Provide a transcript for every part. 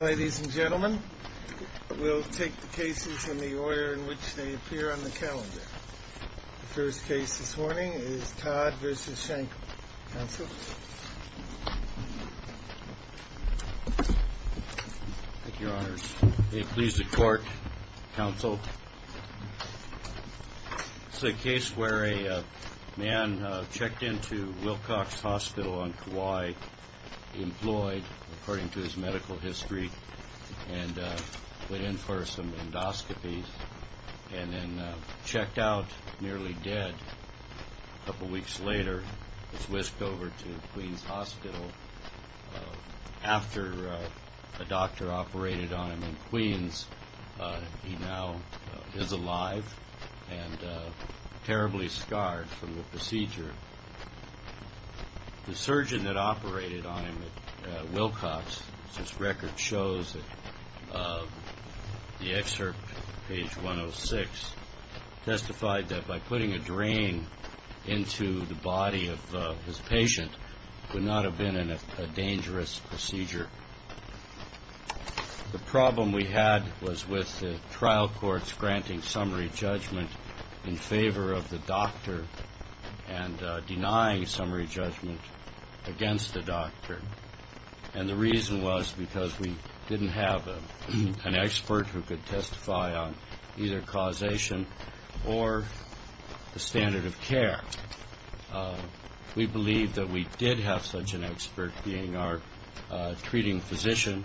Ladies and gentlemen, we'll take the cases in the order in which they appear on the calendar. The first case this morning is Todd v. Shankel. Counsel? Thank you, Your Honors. May it please the Court, Counsel? This is a case where a man checked into Wilcox Hospital on Kauai. He employed, according to his medical history, and went in for some endoscopies and then checked out nearly dead. A couple weeks later, was whisked over to Queens Hospital. After a doctor operated on him in Queens, he now is alive and terribly scarred from the procedure. The surgeon that operated on him at Wilcox, as this record shows, the excerpt, page 106, testified that by putting a drain into the body of his patient, it would not have been a dangerous procedure. The problem we had was with the trial courts granting summary judgment in favor of the doctor and denying summary judgment against the doctor. And the reason was because we didn't have an expert who could testify on either causation or the standard of care. We believe that we did have such an expert, being our treating physician,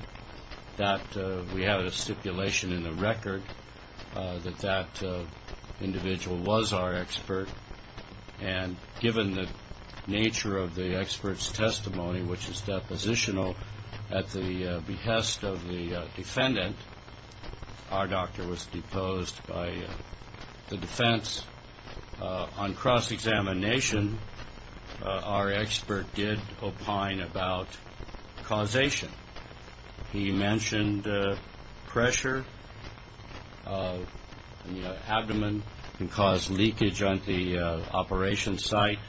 that we have a stipulation in the record that that individual was our expert. And given the nature of the expert's testimony, which is depositional at the behest of the defendant, our doctor was deposed by the defense. On cross-examination, our expert did opine about causation. He mentioned pressure in the abdomen can cause leakage on the operation site,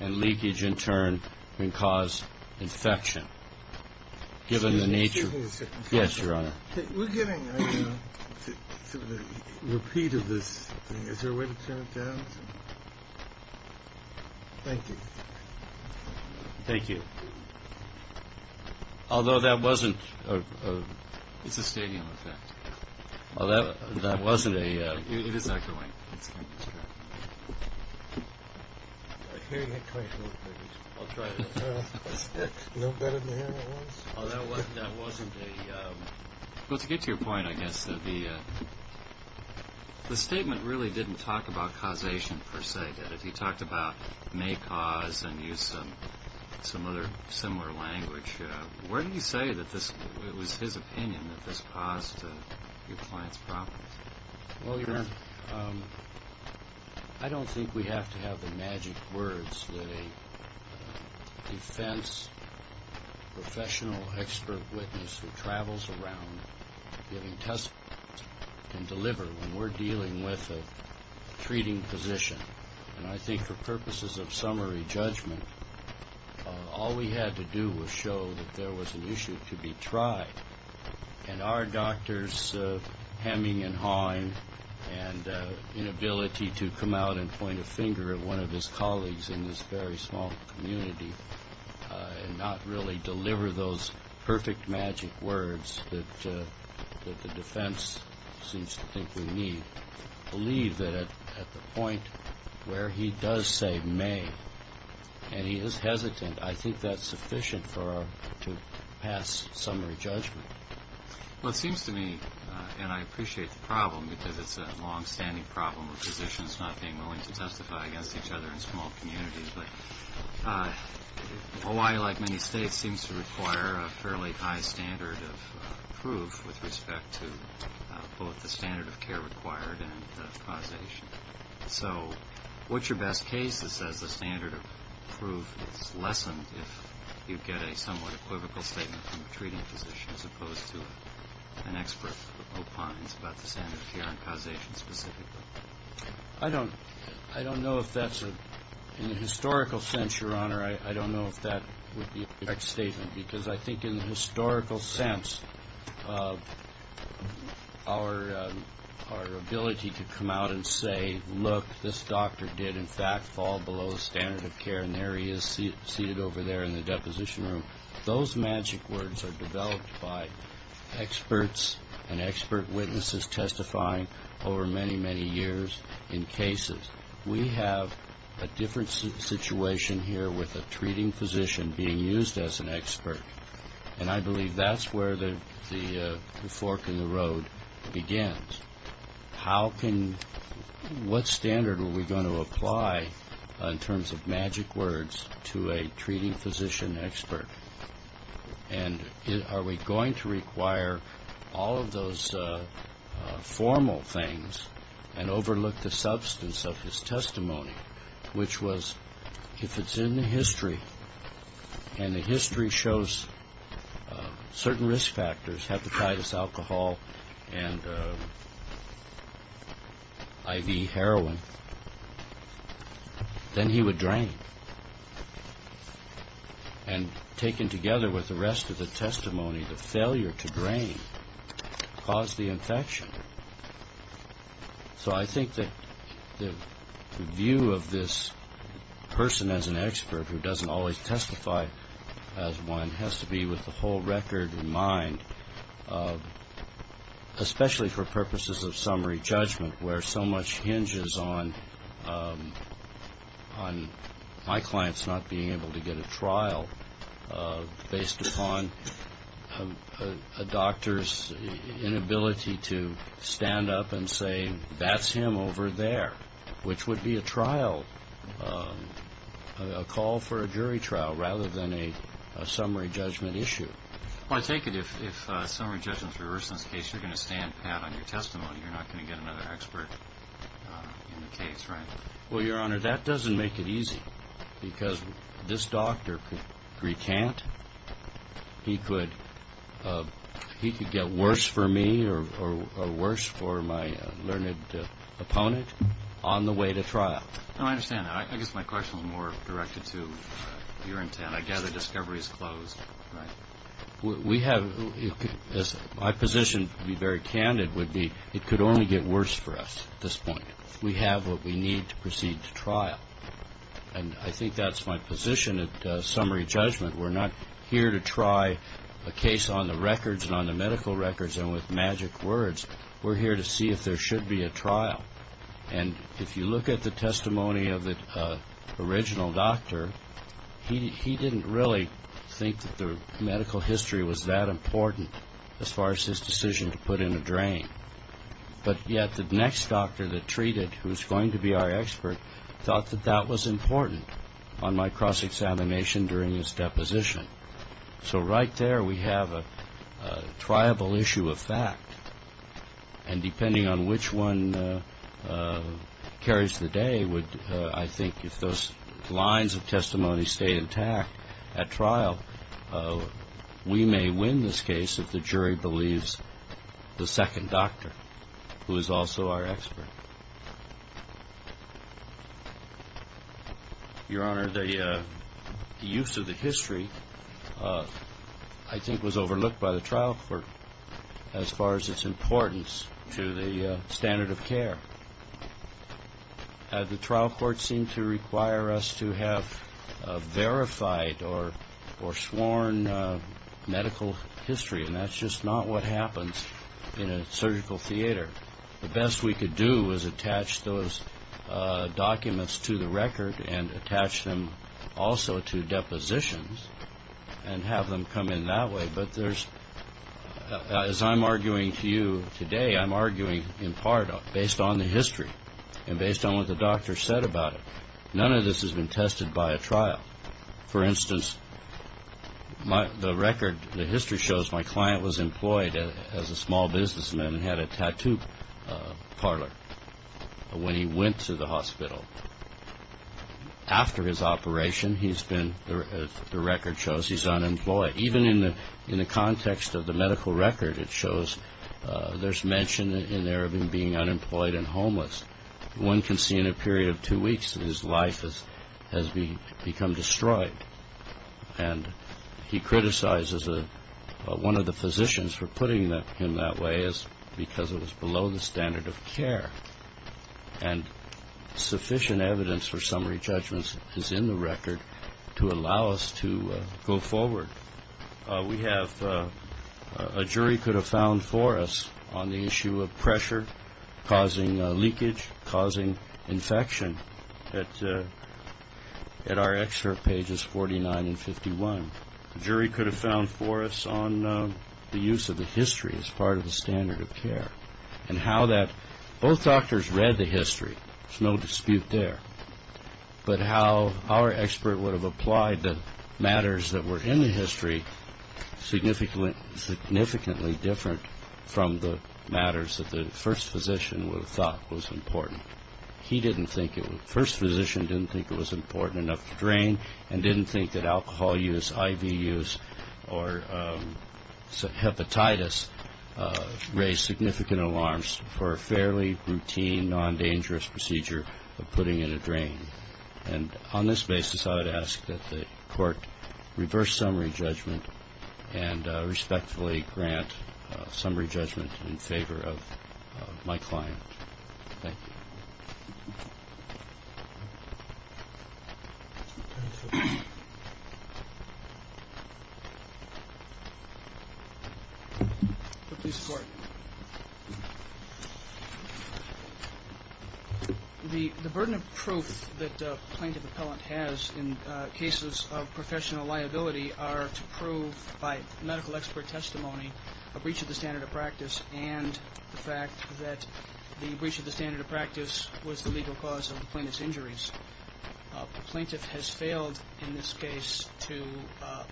and leakage, in turn, can cause infection. Given the nature of the case. Yes, Your Honor. We're getting a repeat of this. Is there a way to turn it down? Thank you. Thank you. Although that wasn't a... It's a stadium effect. That wasn't a... It is not going. I hear you. I'll try it again. Although that wasn't a... Well, to get to your point, I guess, the statement really didn't talk about causation per se. It talked about may cause and use some other similar language. Where do you say that this was his opinion that this caused your client's problem? Well, Your Honor, I don't think we have to have the magic words that a defense professional expert witness who travels around giving testimony can deliver when we're dealing with a treating position. And I think for purposes of summary judgment, all we had to do was show that there was an issue to be tried. And our doctors' hemming and hawing and inability to come out and point a finger at one of his colleagues in this very small community and not really deliver those perfect magic words that the defense seems to think we need, believe that at the point where he does say may, and he is hesitant, I think that's sufficient to pass summary judgment. Well, it seems to me, and I appreciate the problem because it's a longstanding problem with physicians not being willing to testify against each other in small communities, but Hawaii, like many states, seems to require a fairly high standard of proof with respect to both the standard of care required and causation. So what's your best case that says the standard of proof is lessened if you get a somewhat equivocal statement from a treating physician as opposed to an expert opines about the standard of care and causation specifically? I don't know if that's a – in the historical sense, Your Honor, I don't know if that would be a correct statement because I think in the historical sense our ability to come out and say, look, this doctor did in fact fall below the standard of care, and there he is seated over there in the deposition room, those magic words are developed by experts and expert witnesses testifying over many, many years in cases. We have a different situation here with a treating physician being used as an expert, and I believe that's where the fork in the road begins. How can – what standard are we going to apply in terms of magic words to a treating physician expert? And are we going to require all of those formal things and overlook the substance of his testimony, which was if it's in the history and the history shows certain risk factors, hepatitis, alcohol, and IV heroin, then he would drain. And taken together with the rest of the testimony, the failure to drain caused the infection. So I think that the view of this person as an expert who doesn't always testify as one has to be with the whole record in mind, especially for purposes of summary judgment where so much hinges on my clients not being able to get a trial based upon a doctor's inability to stand up and say, that's him over there, which would be a trial, a call for a jury trial rather than a summary judgment issue. I take it if summary judgment is reversed in this case, you're going to stand pat on your testimony. You're not going to get another expert in the case, right? Well, Your Honor, that doesn't make it easy because this doctor could recant. He could get worse for me or worse for my learned opponent on the way to trial. No, I understand. I guess my question was more directed to your intent. I gather discovery is closed, right? My position, to be very candid, would be it could only get worse for us at this point. We have what we need to proceed to trial. And I think that's my position at summary judgment. We're not here to try a case on the records and on the medical records and with magic words. We're here to see if there should be a trial. And if you look at the testimony of the original doctor, he didn't really think that the medical history was that important as far as his decision to put in a drain. But yet the next doctor that treated, who's going to be our expert, thought that that was important on my cross-examination during his deposition. So right there we have a triable issue of fact. And depending on which one carries the day, I think if those lines of testimony stay intact at trial, we may win this case if the jury believes the second doctor, who is also our expert. Your Honor, the use of the history, I think, was overlooked by the trial court as far as its importance to the standard of care. The trial court seemed to require us to have verified or sworn medical history, and that's just not what happens in a surgical theater. The best we could do was attach those documents to the record and attach them also to depositions and have them come in that way. But as I'm arguing to you today, I'm arguing in part based on the history and based on what the doctor said about it. None of this has been tested by a trial. For instance, the record, the history shows my client was employed as a small businessman and had a tattoo parlor when he went to the hospital. After his operation, the record shows he's unemployed. Even in the context of the medical record, it shows there's mention in there of him being unemployed and homeless. One can see in a period of two weeks that his life has become destroyed. And he criticizes one of the physicians for putting him that way because it was below the standard of care. And sufficient evidence for summary judgments is in the record to allow us to go forward. We have a jury could have found for us on the issue of pressure causing leakage, causing infection at our excerpt pages 49 and 51. A jury could have found for us on the use of the history as part of the standard of care and how that both doctors read the history. There's no dispute there. But how our expert would have applied the matters that were in the history significantly different from the matters that the first physician would have thought was important. He didn't think it was. The first physician didn't think it was important enough to drain and didn't think that alcohol use, IV use, or hepatitis raised significant alarms for a fairly routine, non-dangerous procedure of putting in a drain. And on this basis, I would ask that the court reverse summary judgment and respectfully grant summary judgment in favor of my client. Thank you. Please support. The burden of proof that plaintiff appellant has in cases of professional liability are to prove by medical expert testimony a breach of the standard of practice and the fact that the breach of the standard of practice was the legal cause of the plaintiff's injuries. The plaintiff has failed in this case to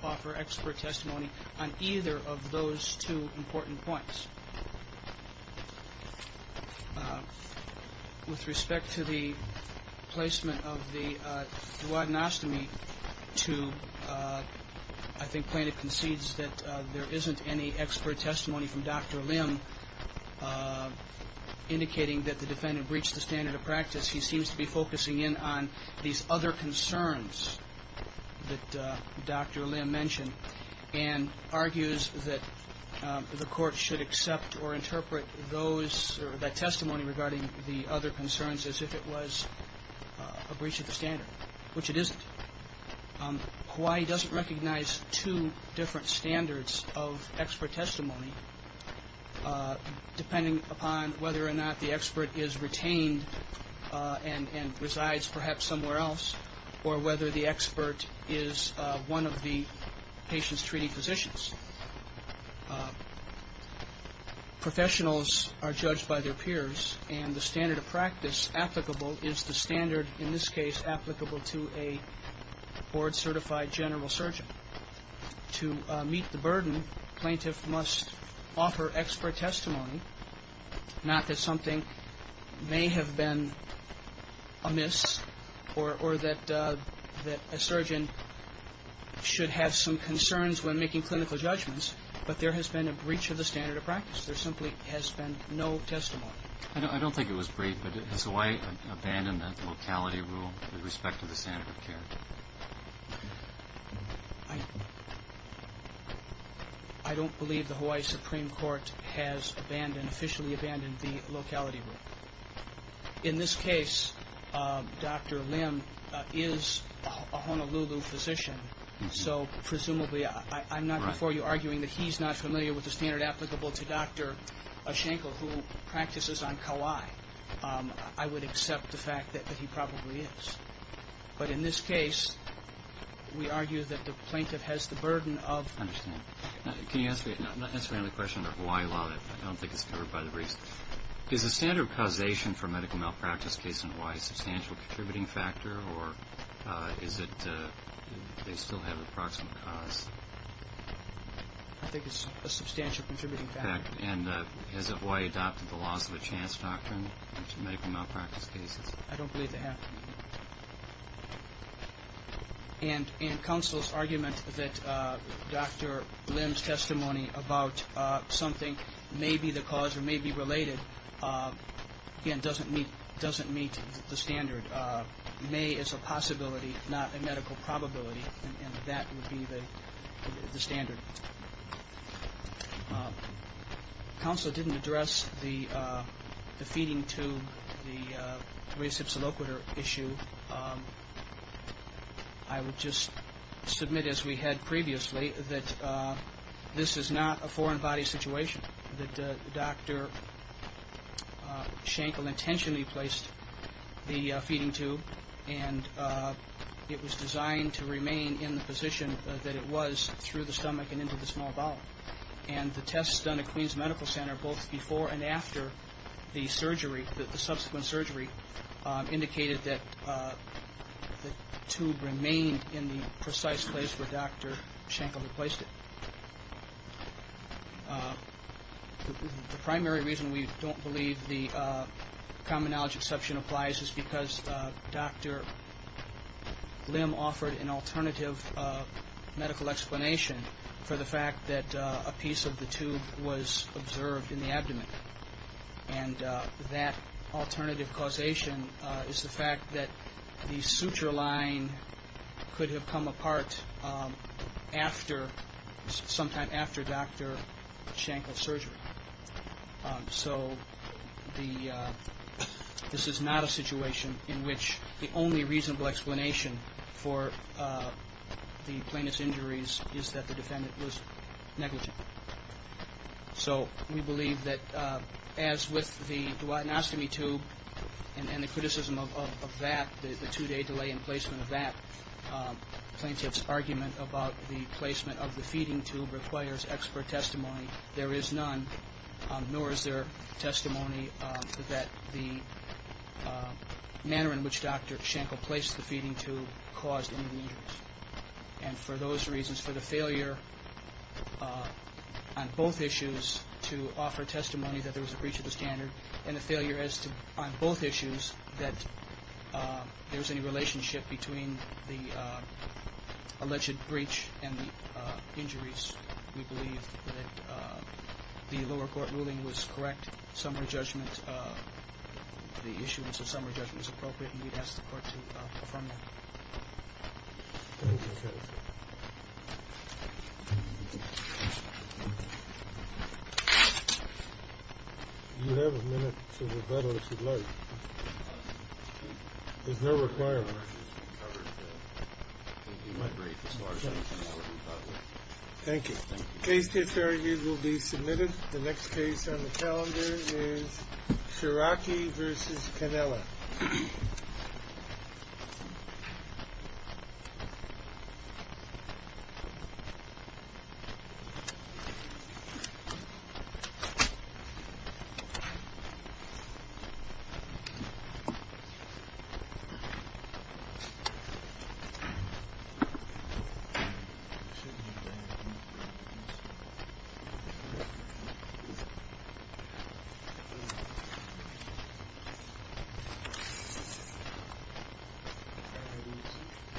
offer expert testimony on either of those two important points. With respect to the placement of the duodenostomy to, I think plaintiff concedes that there isn't any expert testimony from Dr. Lim indicating that the defendant breached the standard of practice. He seems to be focusing in on these other concerns that Dr. Lim mentioned and argues that the court should accept or interpret those or that testimony regarding the other concerns as if it was a breach of the standard, which it isn't. Hawaii doesn't recognize two different standards of expert testimony, depending upon whether or not the expert is retained and resides perhaps somewhere else or whether the expert is one of the patient's treating physicians. Professionals are judged by their peers, and the standard of practice applicable is the standard, in this case, applicable to a board-certified general surgeon. To meet the burden, plaintiff must offer expert testimony, not that something may have been amiss or that a surgeon should have some concerns when making clinical judgments, because there simply has been no testimony. I don't think it was breached, but has Hawaii abandoned the locality rule with respect to the standard of care? I don't believe the Hawaii Supreme Court has officially abandoned the locality rule. In this case, Dr. Lim is a Honolulu physician, so presumably I'm not before you arguing that he's not familiar with the standard applicable to Dr. Ashanko, who practices on Kauai. I would accept the fact that he probably is. But in this case, we argue that the plaintiff has the burden of ‑‑ I understand. Can you ask me another question on the Hawaii law? I don't think it's covered by the briefs. Is the standard of causation for medical malpractice case in Hawaii a substantial contributing factor, or do they still have a proximate cause? I think it's a substantial contributing factor. And has Hawaii adopted the laws of a chance doctrine for medical malpractice cases? I don't believe they have. And counsel's argument that Dr. Lim's testimony about something may be the cause or may be related, again, doesn't meet the standard. May is a possibility, not a medical probability. And that would be the standard. Counsel didn't address the feeding tube, the rhesypsiloquiter issue. I would just submit, as we had previously, that this is not a foreign body situation, that Dr. Schenkel intentionally placed the feeding tube, and it was designed to remain in the position that it was through the stomach and into the small bowel. And the tests done at Queens Medical Center both before and after the surgery, the subsequent surgery, indicated that the tube remained in the precise place where Dr. Schenkel had placed it. The primary reason we don't believe the common knowledge exception applies is because Dr. Lim offered an alternative medical explanation for the fact that a piece of the tube was observed in the abdomen. And that alternative causation is the fact that the suture line could have come apart sometime after Dr. Schenkel's surgery. So this is not a situation in which the only reasonable explanation for the plaintiff's injuries is that the defendant was negligent. So we believe that as with the duodenostomy tube and the criticism of that, the two-day delay in placement of that, the plaintiff's argument about the placement of the feeding tube requires expert testimony. There is none, nor is there testimony that the manner in which Dr. Schenkel placed the feeding tube caused any injuries. And for those reasons, for the failure on both issues to offer testimony that there was a breach of the standard, and the failure on both issues that there was any relationship between the alleged breach and the injuries, we believe that the lower court ruling was correct. Summary judgment. The issuance of summary judgment is appropriate, and we'd ask the court to affirm that. Thank you, counsel. You have a minute to rebuttal, if you'd like. There's no requirement. Thank you. The case to its fair review will be submitted. The next case on the calendar is Scirocchi v. Cannella.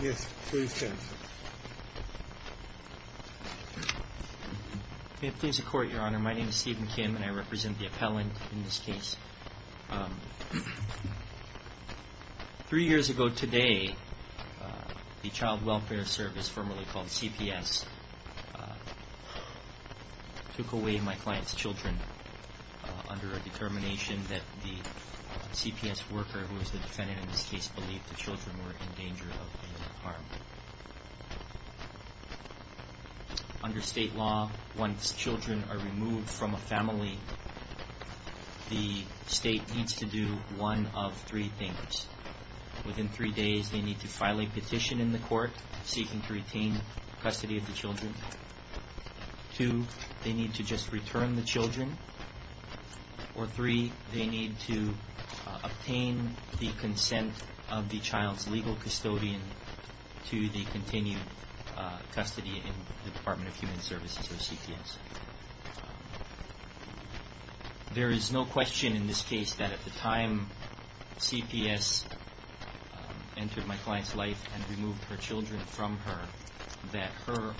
Yes, please, counsel. May it please the Court, Your Honor. My name is Stephen Kim, and I represent the appellant in this case. Three years ago today, the Child Welfare Service, formerly called CPS, took away my client's children under a determination that the CPS worker, who was the defendant in this case, believed the children were in danger of being harmed. Under state law, once children are removed from a family, the state needs to do one of three things. Within three days, they need to file a petition in the court seeking to retain custody of the children. Two, they need to just return the children. Or three, they need to obtain the consent of the child's legal custodian to the continued custody in the Department of Human Services, or CPS. There is no question in this case that at the time CPS entered my client's life and removed her children from her, that her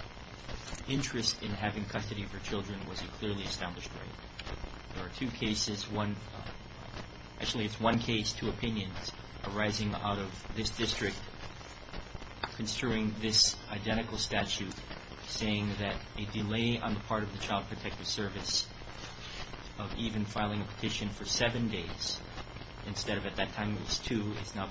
interest in having custody of her children was a clearly established right. There are two cases, one, actually it's one case, two opinions arising out of this district, construing this identical statute saying that a delay on the part of the Child Protective Service of even filing a petition for seven days, instead of at that time it was two, is now...